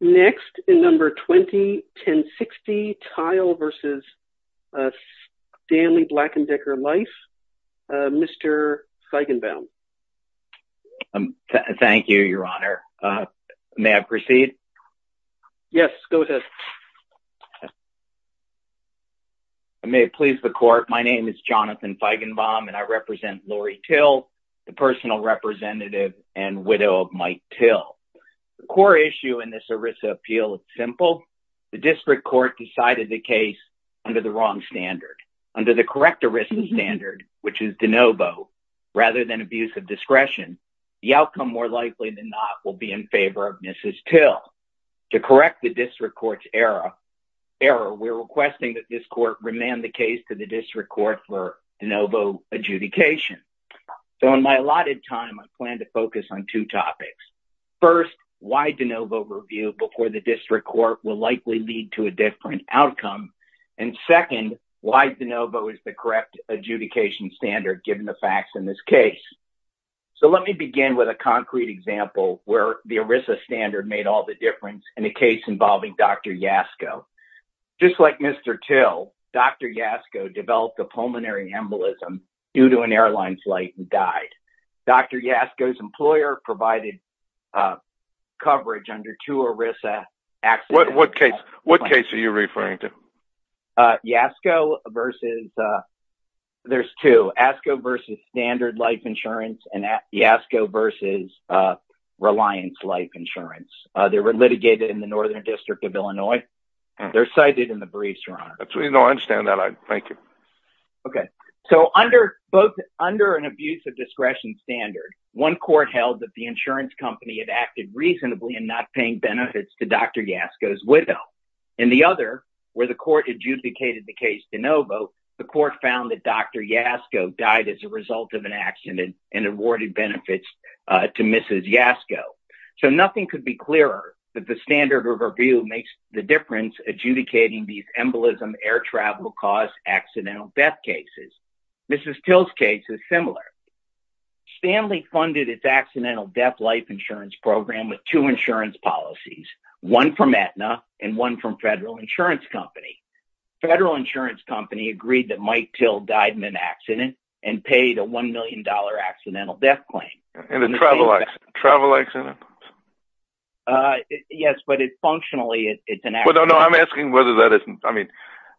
Next in number 20, 1060, Tyle v. Stanley Black And Decker Life, Mr. Feigenbaum. Thank you, Your Honor. May I proceed? Yes, go ahead. I may please the court. My name is Jonathan Feigenbaum, and I represent Lori Till, the personal representative and widow of Mike Till. The core issue in this ERISA appeal is simple. The district court decided the case under the wrong standard. Under the correct ERISA standard, which is de novo, rather than abuse of discretion, the outcome more likely than not will be in favor of Mrs. Till. To correct the district court's error, we're requesting that this court remand the case to the district court for de novo adjudication. So in my allotted time, I plan to focus on two topics. First, why de novo review before the district court will likely lead to a different outcome. And second, why de novo is the correct adjudication standard, given the facts in this case. So let me begin with a concrete example where the ERISA standard made all the difference in a case involving Dr. Yasko. Just like Mr. Till, Dr. Yasko developed a pulmonary embolism due to an airline flight and died. Dr. Yasko's employer provided coverage under two ERISA accidents. What case are you referring to? Yasko versus, there's two, Yasko versus standard life insurance and Yasko versus reliance life insurance. They were litigated in the Northern District of Illinois. They're cited in the briefs, Your Honor. No, I understand that. Thank you. Okay. So under an abuse of discretion standard, one court held that the insurance company had acted reasonably in not paying benefits to Dr. Yasko's widow. In the other, where the court adjudicated the case de novo, the court found that Dr. Yasko died as a result of an accident and awarded benefits to Mrs. Yasko. So nothing could be clearer that the standard of review makes the difference adjudicating these embolism air travel caused accidental death cases. Mrs. Till's case is similar. Stanley funded its accidental death life insurance program with two insurance policies, one from Aetna and one from Federal Insurance Company. Federal Insurance Company agreed that Mike Till died in an accident and paid a $1 million accidental death claim. In a travel accident? Yes, but it's functionally, it's an accident. Well, no, no, I'm asking whether that isn't, I mean,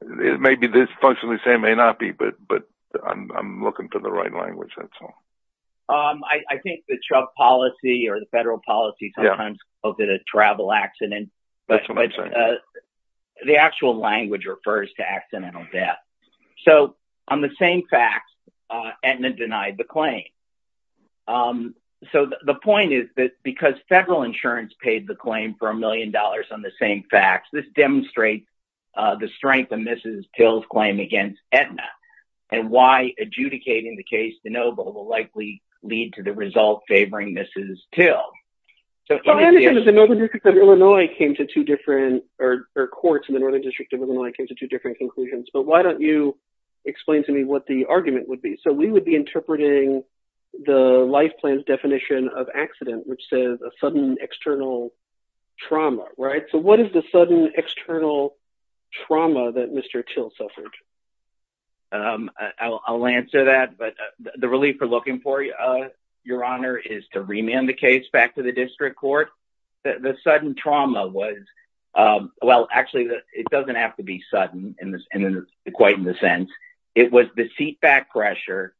it may be dysfunctional, it may not be, but I'm looking for the right language, that's all. I think the Trump policy or the federal policy sometimes calls it a travel accident. That's what I'm saying. The actual language refers to accidental death. So on the same facts, Aetna denied the claim. So the point is that because federal insurance paid the claim for a million dollars on the same facts, this demonstrates the strength of Mrs. Till's claim against Aetna. And why adjudicating the case de novo will likely lead to the result favoring Mrs. Till. I understand that the Northern District of Illinois came to two different, or courts in the Northern District of Illinois came to two different conclusions. But why don't you explain to me what the argument would be? So we would be interpreting the life plan's definition of accident, which says a sudden external trauma, right? So what is the sudden external trauma that Mr. Till suffered? I'll answer that. But the relief we're looking for, Your Honor, is to remand the case back to the district court. The sudden trauma was, well, actually, it doesn't have to be sudden, quite in the sense. It was the seat back pressure.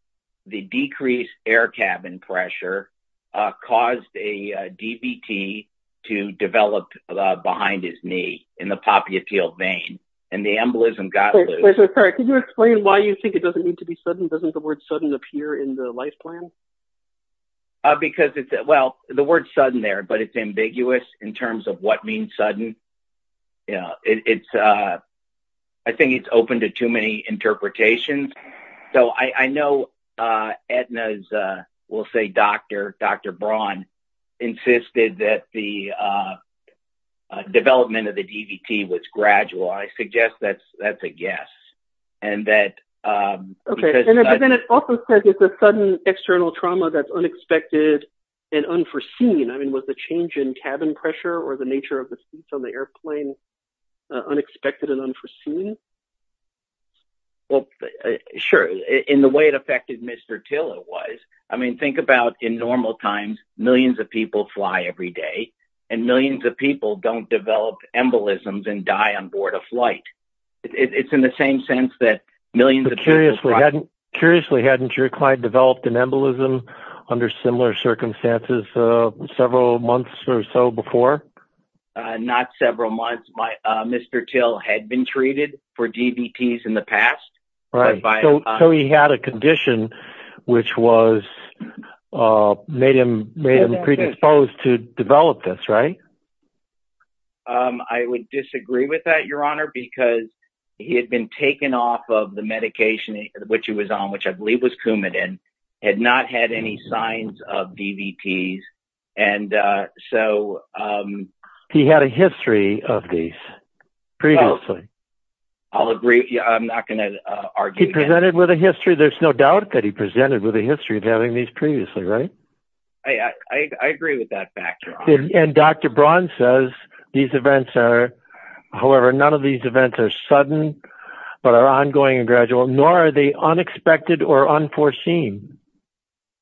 The decreased air cabin pressure caused a DVT to develop behind his knee in the poppy appeal vein. And the embolism got loose. Could you explain why you think it doesn't need to be sudden? Doesn't the word sudden appear in the life plan? Because, well, the word sudden there, but it's ambiguous in terms of what means sudden. I think it's open to too many interpretations. So I know Aetna's, we'll say, doctor, Dr. Braun, insisted that the development of the DVT was gradual. I suggest that's a guess. Okay. And then it also says it's a sudden external trauma that's unexpected and unforeseen. I mean, was the change in cabin pressure or the nature of the seats on the airplane unexpected and unforeseen? Well, sure. In the way it affected Mr. Till, it was. I mean, think about in normal times, millions of people fly every day. And millions of people don't develop embolisms and die on board a flight. It's in the same sense that millions of people fly. Curiously, hadn't your client developed an embolism under similar circumstances several months or so before? Not several months. Mr. Till had been treated for DVTs in the past. So he had a condition which made him predisposed to develop this, right? I would disagree with that, Your Honor, because he had been taken off of the medication which he was on, which I believe was Coumadin, had not had any signs of DVTs. And so he had a history of these previously. I'll agree. I'm not going to argue. He presented with a history. There's no doubt that he presented with a history of having these previously, right? I agree with that factor. And Dr. Braun says these events are, however, none of these events are sudden, but are ongoing and gradual, nor are they unexpected or unforeseen.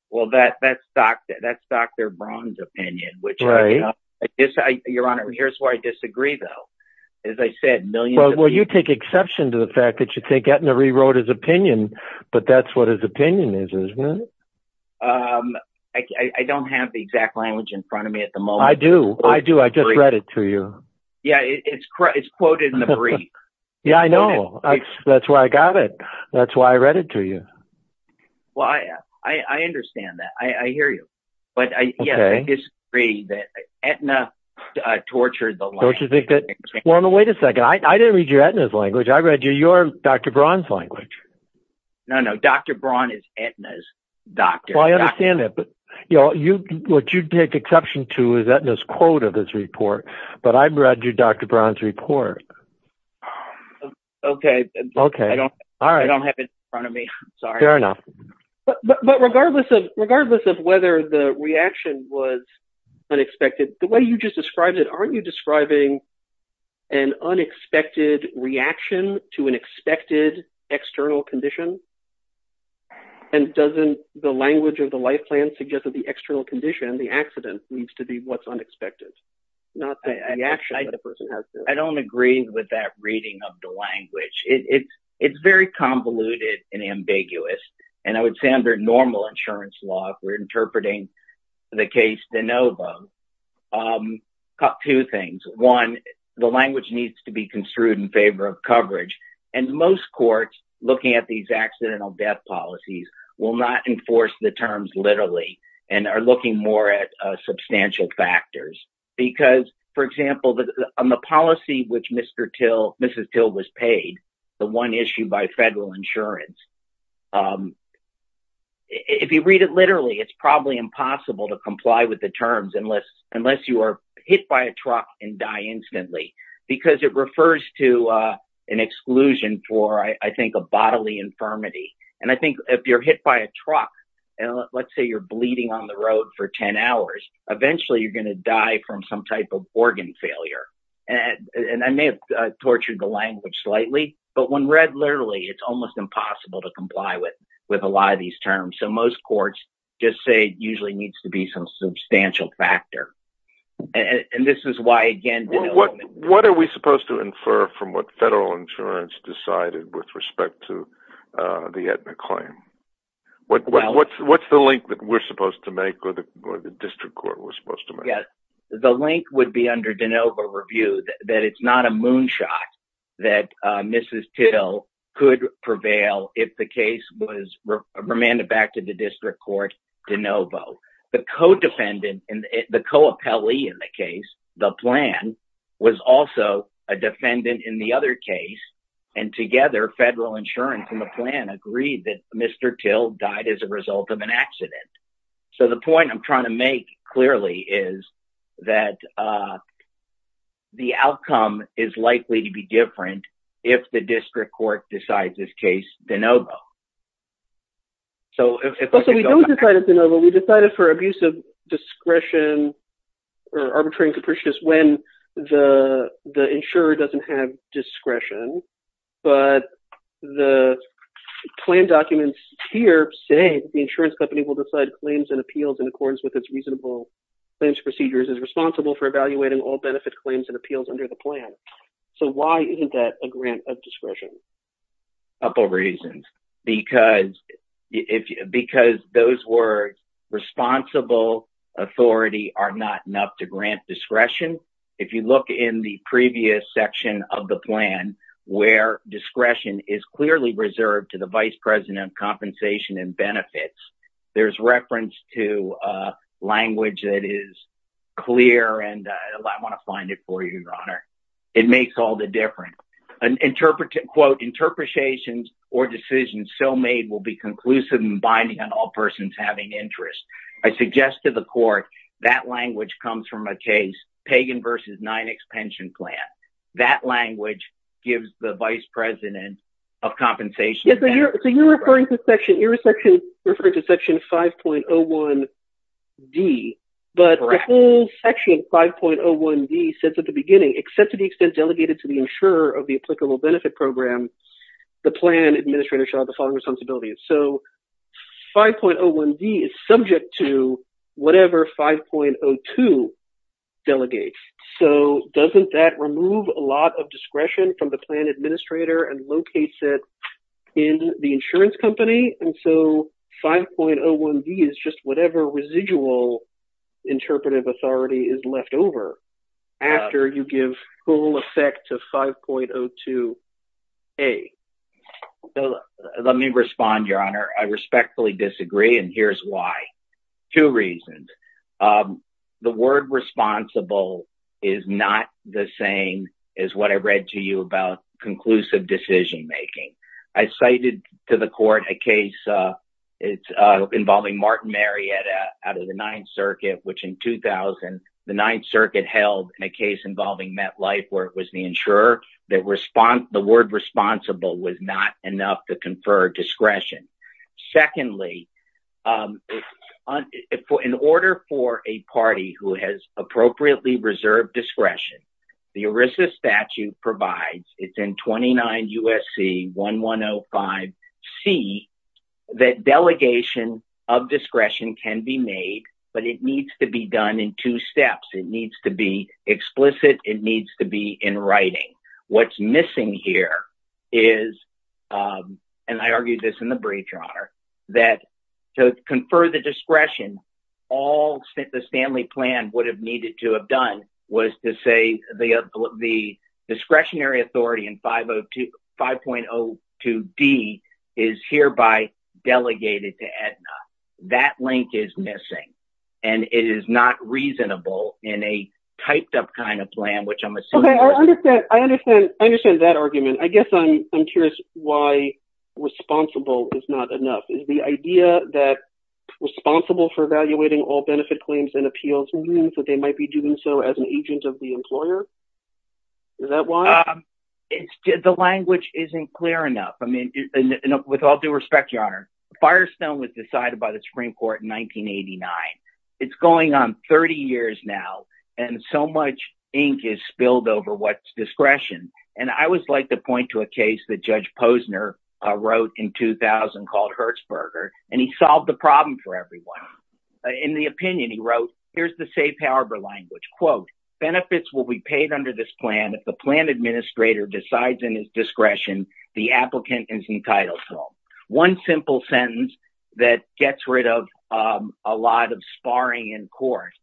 Well, that's Dr. Braun's opinion. Right. Your Honor, here's where I disagree, though. As I said, millions of people... Well, you take exception to the fact that you think Etna rewrote his opinion, but that's what his opinion is, isn't it? I don't have the exact language in front of me at the moment. I do. I do. I just read it to you. Yeah, it's quoted in the brief. Yeah, I know. That's why I got it. That's why I read it to you. Well, I understand that. I hear you. But, yeah, I disagree that Etna tortured the language. Well, wait a second. I didn't read your Etna's language. I read your Dr. Braun's language. No, no. Dr. Braun is Etna's doctor. Well, I understand that, but what you take exception to is Etna's quote of this report, but I read your Dr. Braun's report. Okay. I don't have it in front of me. Sorry. Fair enough. But regardless of whether the reaction was unexpected, the way you just described it, aren't you describing an unexpected reaction to an expected external condition? And doesn't the language of the life plan suggest that the external condition, the accident, needs to be what's unexpected, not the reaction that the person has to it? I don't agree with that reading of the language. It's very convoluted and ambiguous. And I would say under normal insurance law, if we're interpreting the case de novo, two things. One, the language needs to be construed in favor of coverage. And most courts, looking at these accidental death policies, will not enforce the terms literally and are looking more at substantial factors. Because, for example, on the policy which Mrs. Till was paid, the one issued by federal insurance, if you read it literally, it's probably impossible to comply with the terms unless you are hit by a truck and die instantly. Because it refers to an exclusion for, I think, a bodily infirmity. And I think if you're hit by a truck, and let's say you're bleeding on the road for 10 hours, eventually you're going to die from some type of organ failure. And I may have tortured the language slightly, but when read literally, it's almost impossible to comply with a lot of these terms. So most courts just say it usually needs to be some substantial factor. And this is why, again, de novo. What are we supposed to infer from what federal insurance decided with respect to the Aetna claim? What's the link that we're supposed to make or the district court was supposed to make? The link would be under de novo review that it's not a moonshot that Mrs. Till could prevail if the case was remanded back to the district court de novo. The co-dependent, the co-appellee in the case, the plan, was also a defendant in the other case. And together, federal insurance and the plan agreed that Mr. Till died as a result of an accident. So the point I'm trying to make clearly is that the outcome is likely to be different if the district court decides this case de novo. So we don't decide it de novo. We decided for abuse of discretion or arbitrary and capricious when the insurer doesn't have discretion. But the plan documents here say the insurance company will decide claims and appeals in accordance with its reasonable claims procedures is responsible for evaluating all benefit claims and appeals under the plan. So why isn't that a grant of discretion? A couple of reasons. Because those words, responsible, authority, are not enough to grant discretion. If you look in the previous section of the plan where discretion is clearly reserved to the vice president of compensation and benefits, there's reference to language that is clear and I want to find it for you, your honor. It makes all the difference. Interpretations or decisions so made will be conclusive and binding on all persons having interest. I suggest to the court that language comes from a case, Pagan v. 9 expansion plan. That language gives the vice president of compensation. You're referring to section 5.01D. But the whole section 5.01D says at the beginning, except to the extent delegated to the insurer of the applicable benefit program, the plan administrator shall have the following responsibilities. So 5.01D is subject to whatever 5.02 delegates. So doesn't that remove a lot of discretion from the plan administrator and locates it in the insurance company? And so 5.01D is just whatever residual interpretive authority is left over after you give full effect of 5.02A. Let me respond, your honor. I respectfully disagree and here's why. Two reasons. The word responsible is not the same as what I read to you about conclusive decision making. I cited to the court a case involving Martin Marietta out of the 9th circuit, which in 2000, the 9th circuit held in a case involving MetLife where it was the insurer. The word responsible was not enough to confer discretion. Secondly, in order for a party who has appropriately reserved discretion, the ERISA statute provides, it's in 29 U.S.C. 1105C, that delegation of discretion can be made, but it needs to be done in two steps. It needs to be explicit. It needs to be in writing. What's missing here is, and I argued this in the brief, your honor, that to confer the discretion, all that the Stanley plan would have needed to have done was to say the discretionary authority in 5.02D is hereby delegated to Aetna. That link is missing. And it is not reasonable in a typed up kind of plan, which I'm assuming. I understand that argument. I guess I'm curious why responsible is not enough. Is the idea that responsible for evaluating all benefit claims and appeals means that they might be doing so as an agent of the employer? Is that why? The language isn't clear enough. I mean, with all due respect, your honor, Firestone was decided by the Supreme Court in 1989. It's going on 30 years now, and so much ink is spilled over what's discretion. And I would like to point to a case that Judge Posner wrote in 2000 called Hertzberger, and he solved the problem for everyone. In the opinion, he wrote, here's the safe harbor language. Quote, benefits will be paid under this plan if the plan administrator decides in his discretion the applicant is entitled to. One simple sentence that gets rid of a lot of sparring in court.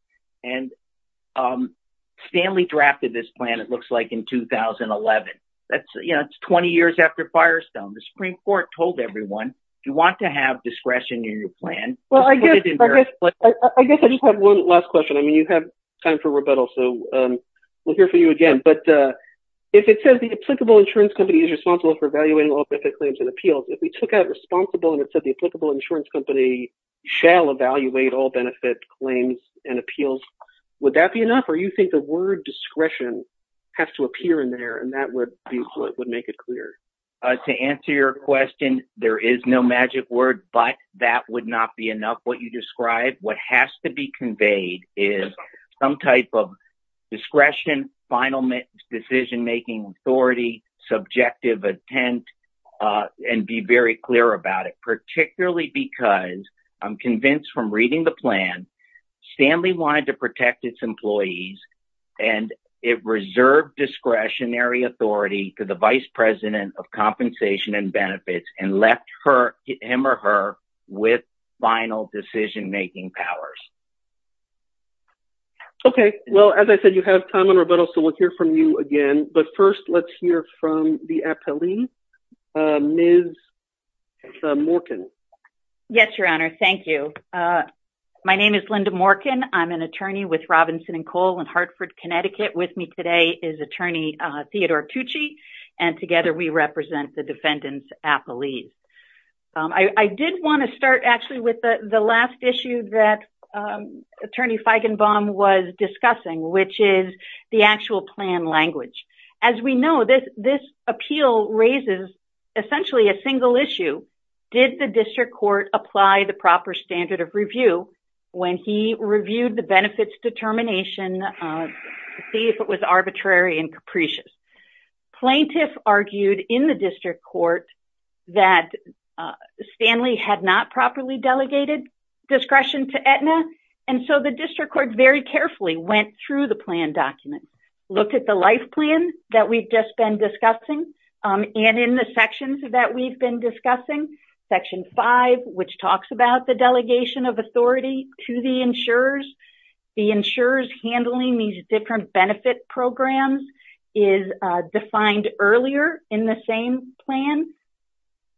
And Stanley drafted this plan, it looks like, in 2011. That's 20 years after Firestone. The Supreme Court told everyone, you want to have discretion in your plan. Well, I guess I just have one last question. I mean, you have time for rebuttal, so we'll hear from you again. But if it says the applicable insurance company is responsible for evaluating all benefit claims and appeals, if we took out responsible and it said the applicable insurance company shall evaluate all benefit claims and appeals, would that be enough? Or do you think the word discretion has to appear in there and that would make it clear? To answer your question, there is no magic word, but that would not be enough. What has to be conveyed is some type of discretion, final decision-making authority, subjective intent, and be very clear about it. Particularly because I'm convinced from reading the plan, Stanley wanted to protect its employees and it reserved discretionary authority to the vice president of compensation and benefits and left him or her with final decision-making powers. Okay. Well, as I said, you have time for rebuttal, so we'll hear from you again. But first, let's hear from the appellee, Ms. Morkin. Yes, Your Honor. Thank you. My name is Linda Morkin. I'm an attorney with Robinson & Cole in Hartford, Connecticut. With me today is Attorney Theodore Tucci, and together we represent the defendants' appellees. I did want to start actually with the last issue that Attorney Feigenbaum was discussing, which is the actual plan language. As we know, this appeal raises essentially a single issue. Did the district court apply the proper standard of review when he reviewed the benefits determination to see if it was arbitrary and capricious? Plaintiff argued in the district court that Stanley had not properly delegated discretion to Aetna, and so the district court very carefully went through the plan document, looked at the life plan that we've just been discussing, and in the sections that we've been discussing, Section 5, which talks about the delegation of authority to the insurers. The insurers handling these different benefit programs is defined earlier in the same plan.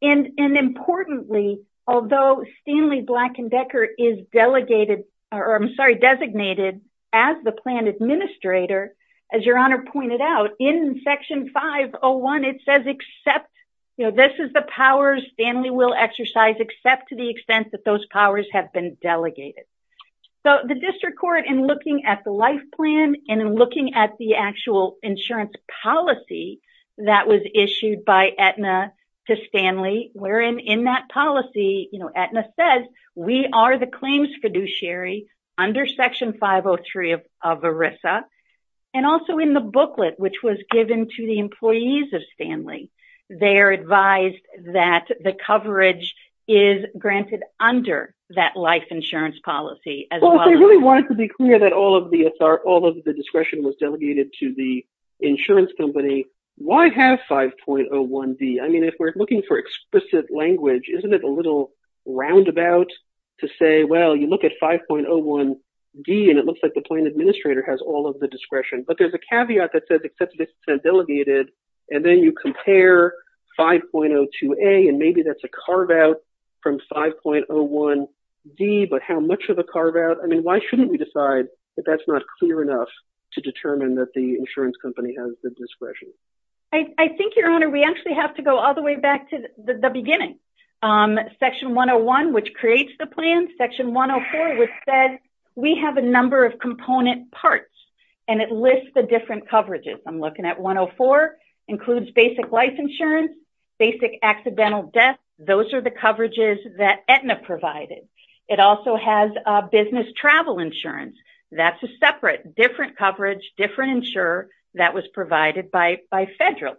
Importantly, although Stanley Black & Decker is designated as the plan administrator, as Your Honor pointed out, in Section 501, it says, this is the powers Stanley will exercise except to the extent that those powers have been delegated. The district court, in looking at the life plan and in looking at the actual insurance policy that was issued by Aetna to Stanley, wherein in that policy Aetna says, we are the claims fiduciary under Section 503 of ERISA, and also in the booklet which was given to the employees of Stanley, they are advised that the coverage is granted under that life insurance policy as well. Well, if they really wanted to be clear that all of the discretion was delegated to the insurance company, why have 5.01d? I mean, if we're looking for explicit language, isn't it a little roundabout to say, well, you look at 5.01d, and it looks like the plan administrator has all of the discretion? But there's a caveat that says except to the extent delegated, and then you compare 5.02a, and maybe that's a carve-out from 5.01d, but how much of a carve-out? I mean, why shouldn't we decide that that's not clear enough to determine that the insurance company has the discretion? I think, Your Honor, we actually have to go all the way back to the beginning. Section 101, which creates the plan, Section 104, which says we have a number of component parts, and it lists the different coverages. I'm looking at 104, includes basic life insurance, basic accidental death. Those are the coverages that Aetna provided. It also has business travel insurance. That's a separate, different coverage, different insurer that was provided by federal.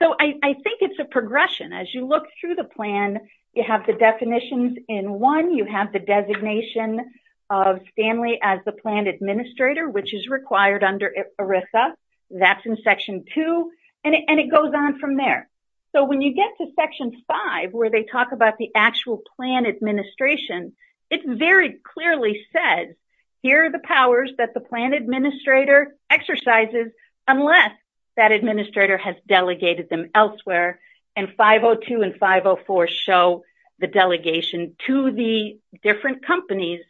So I think it's a progression. As you look through the plan, you have the definitions in one. You have the designation of Stanley as the plan administrator, which is required under ERISA. That's in Section 2, and it goes on from there. So when you get to Section 5, where they talk about the actual plan administration, it very clearly says, here are the powers that the plan administrator exercises, unless that administrator has delegated them elsewhere, and 5.02 and 5.04 show the delegation to the different companies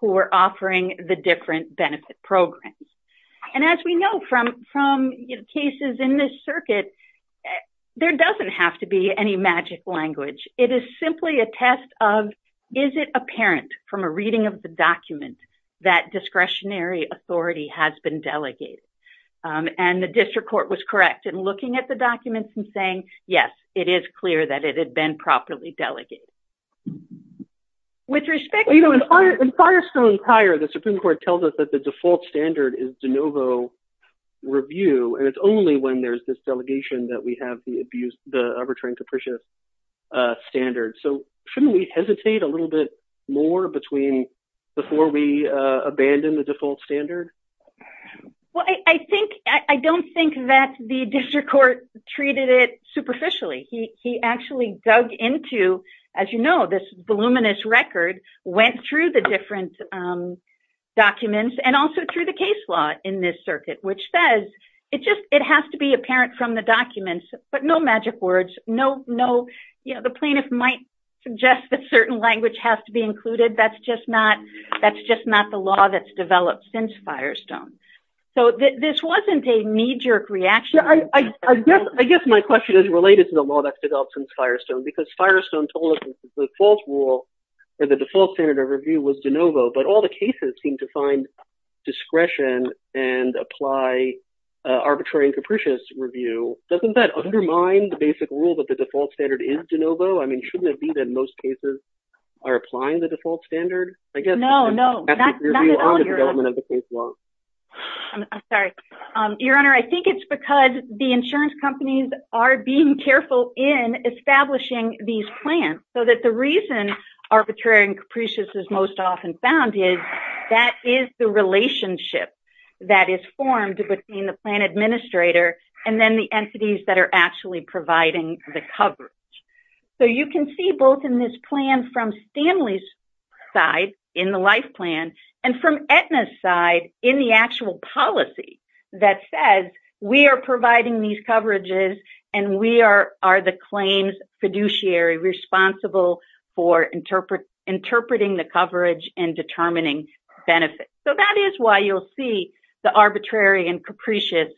who are offering the different benefit programs. And as we know from cases in this circuit, there doesn't have to be any magic language. It is simply a test of, is it apparent from a reading of the document that discretionary authority has been delegated? And the district court was correct in looking at the documents and saying, yes, it is clear that it had been properly delegated. In Firestone's hire, the Supreme Court tells us that the default standard is de novo review, and it's only when there's this delegation that we have the arbitrary and capricious standard. So shouldn't we hesitate a little bit more before we abandon the default standard? Well, I don't think that the district court treated it superficially. He actually dug into, as you know, this voluminous record, went through the different documents, and also through the case law in this circuit, which says it has to be apparent from the documents, but no magic words. The plaintiff might suggest that certain language has to be included. That's just not the law that's developed since Firestone. So this wasn't a knee-jerk reaction. I guess my question is related to the law that's developed since Firestone, because Firestone told us the default rule or the default standard of review was de novo, but all the cases seem to find discretion and apply arbitrary and capricious review. Doesn't that undermine the basic rule that the default standard is de novo? I mean, shouldn't it be that most cases are applying the default standard? No, no, not at all, Your Honor. I'm sorry. Your Honor, I think it's because the insurance companies are being careful in establishing these plans, so that the reason arbitrary and capricious is most often found is that is the relationship that is formed between the plan administrator and then the entities that are actually providing the coverage. So you can see both in this plan from Stanley's side, in the life plan, and from Aetna's side in the actual policy that says we are providing these coverages and we are the claims fiduciary responsible for interpreting the coverage and determining benefits. So that is why you'll see the arbitrary and capricious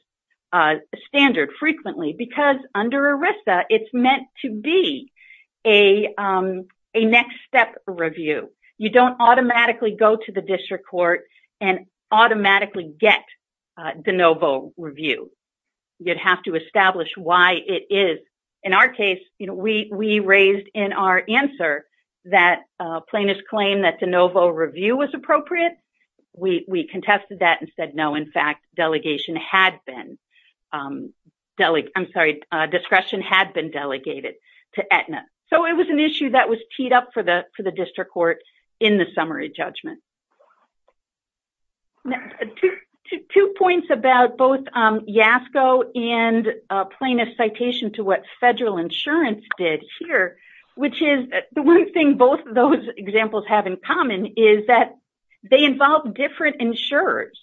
standard frequently, because under ERISA, it's meant to be a next step review. You don't automatically go to the district court and automatically get de novo review. You'd have to establish why it is. In our case, we raised in our answer that plaintiff's claim that de novo review was appropriate. We contested that and said, no, in fact, delegation had been. I'm sorry, discretion had been delegated to Aetna. So it was an issue that was teed up for the district court in the summary judgment. Two points about both YASCO and plaintiff's citation to what federal insurance did here, which is the one thing both of those examples have in common is that they involve different insurers.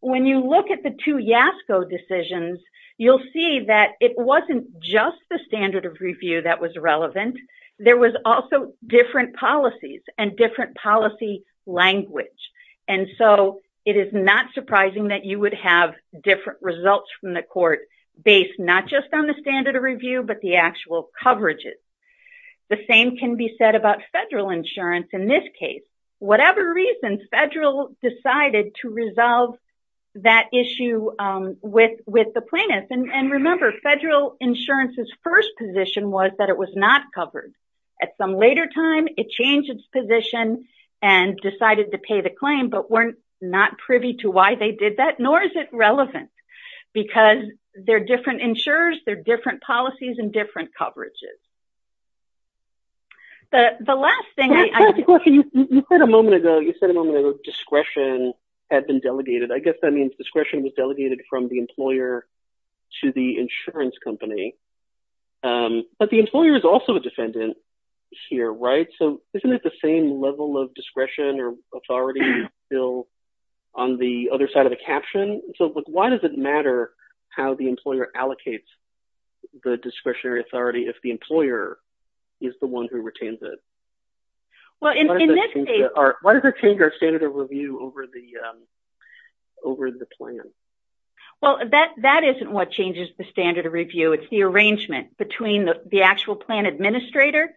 When you look at the two YASCO decisions, you'll see that it wasn't just the standard of review that was relevant. There was also different policies and different policy language. And so it is not surprising that you would have different results from the court based not just on the standard of review, but the actual coverages. The same can be said about federal insurance in this case. Whatever reason, federal decided to resolve that issue with the plaintiff. And remember, federal insurance's first position was that it was not covered. At some later time, it changed its position and decided to pay the claim, but we're not privy to why they did that, nor is it relevant because they're different insurers, they're different policies and different coverages. The last thing I- The last question, you said a moment ago, you said a moment ago discretion had been delegated. I guess that means discretion was delegated from the employer to the insurance company. But the employer is also a defendant here, right? So isn't it the same level of discretion or authority on the other side of the caption? So why does it matter how the employer allocates the discretionary authority if the employer is the one who retains it? Well, in this case- Why does it change our standard of review over the plan? Well, that isn't what changes the standard of review. It's the arrangement between the actual plan administrator,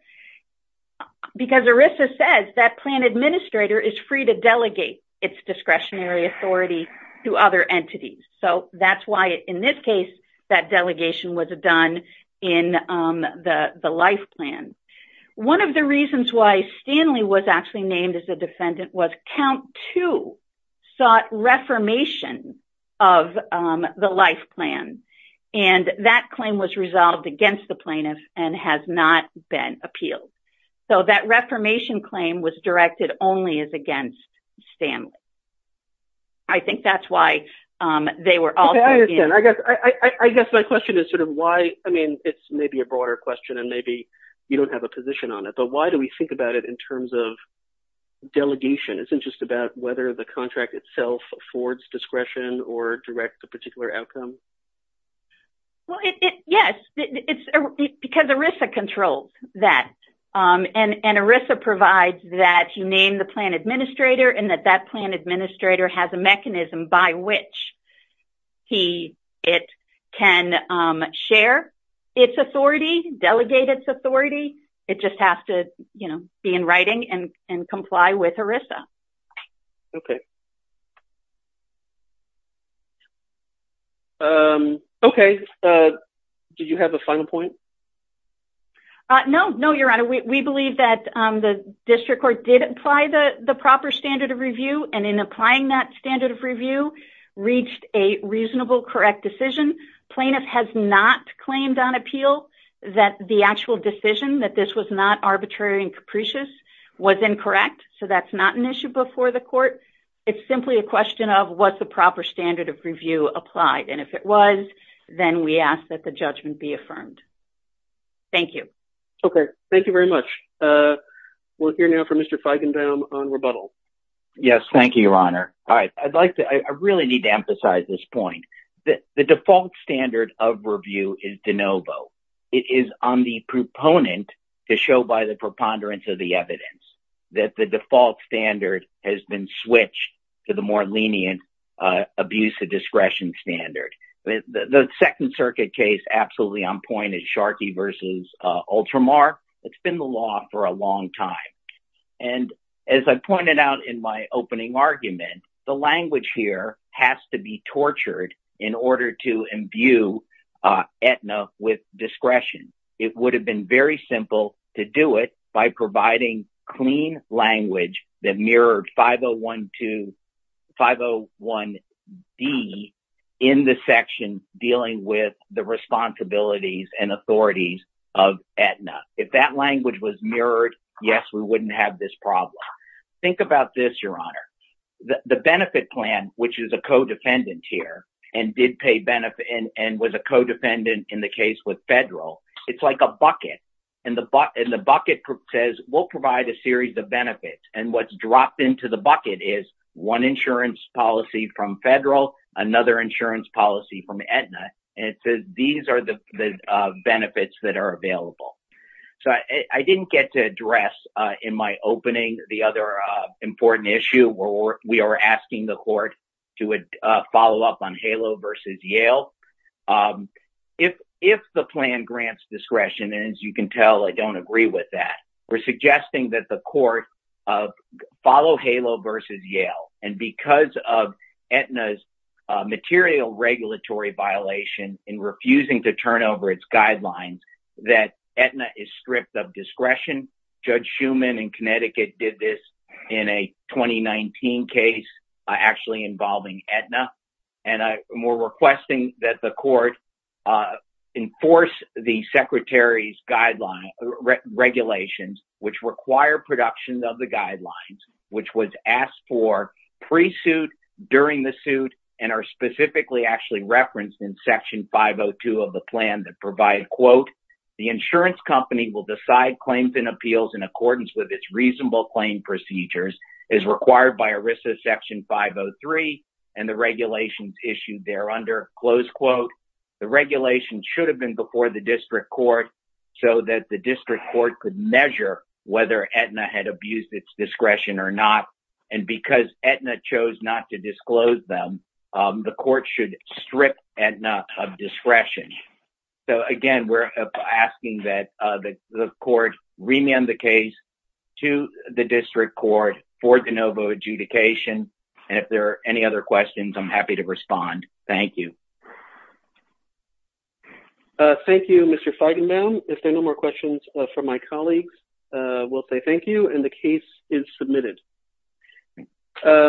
because ERISA says that plan administrator is free to delegate its discretionary authority to other entities. So that's why, in this case, that delegation was done in the life plan. One of the reasons why Stanley was actually named as a defendant was Count 2 sought reformation of the life plan. And that claim was resolved against the plaintiff and has not been appealed. So that reformation claim was directed only as against Stanley. I think that's why they were all- I guess my question is sort of why- I mean, it's maybe a broader question and maybe you don't have a position on it. But why do we think about it in terms of delegation? Isn't it just about whether the contract itself affords discretion or directs a particular outcome? Well, yes, because ERISA controls that. And ERISA provides that you name the plan administrator and that that plan administrator has a mechanism by which it can share its authority, delegate its authority. It just has to be in writing and comply with ERISA. OK. OK. Do you have a final point? No, no, Your Honor. We believe that the district court did apply the proper standard of review. And in applying that standard of review, reached a reasonable, correct decision. Plaintiff has not claimed on appeal that the actual decision, that this was not arbitrary and capricious, was incorrect. So that's not an issue before the court. It's simply a question of what's the proper standard of review applied. And if it was, then we ask that the judgment be affirmed. Thank you. OK. Thank you very much. We're here now for Mr. Feigenbaum on rebuttal. Yes. Thank you, Your Honor. I'd like to- I really need to emphasize this point. The default standard of review is de novo. It is on the proponent to show by the preponderance of the evidence that the default standard has been switched to the more lenient abuse of discretion standard. The Second Circuit case, absolutely on point, is Sharkey versus Ultramar. It's been the law for a long time. And as I pointed out in my opening argument, the language here has to be tortured in order to imbue Aetna with discretion. It would have been very simple to do it by providing clean language that mirrored 501D in the section dealing with the responsibilities and authorities of Aetna. If that language was mirrored, yes, we wouldn't have this problem. Think about this, Your Honor. The benefit plan, which is a co-defendant here and did pay benefit and was a co-defendant in the case with Federal, it's like a bucket. And the bucket says, we'll provide a series of benefits. And what's dropped into the bucket is one insurance policy from Federal, another insurance policy from Aetna. And it says these are the benefits that are available. So I didn't get to address in my opening the other important issue where we are asking the court to follow up on HALO versus Yale. If the plan grants discretion, and as you can tell, I don't agree with that, we're suggesting that the court follow HALO versus Yale. And because of Aetna's material regulatory violation in refusing to turn over its guidelines, that Aetna is stripped of discretion. Judge Schuman in Connecticut did this in a 2019 case actually involving Aetna. And we're requesting that the court enforce the Secretary's regulations, which require production of the guidelines, which was asked for pre-suit, during the suit, and are specifically actually referenced in Section 502 of the plan that provide, quote, the insurance company will decide claims and appeals in accordance with its reasonable claim procedures, as required by ERISA Section 503 and the regulations issued there under, close quote. The regulation should have been before the district court so that the district court could measure whether Aetna had abused its discretion or not. And because Aetna chose not to disclose them, the court should strip Aetna of discretion. So again, we're asking that the court remand the case to the district court for de novo adjudication. And if there are any other questions, I'm happy to respond. Thank you. Thank you, Mr. Feigenbaum. If there are no more questions from my colleagues, we'll say thank you, and the case is submitted.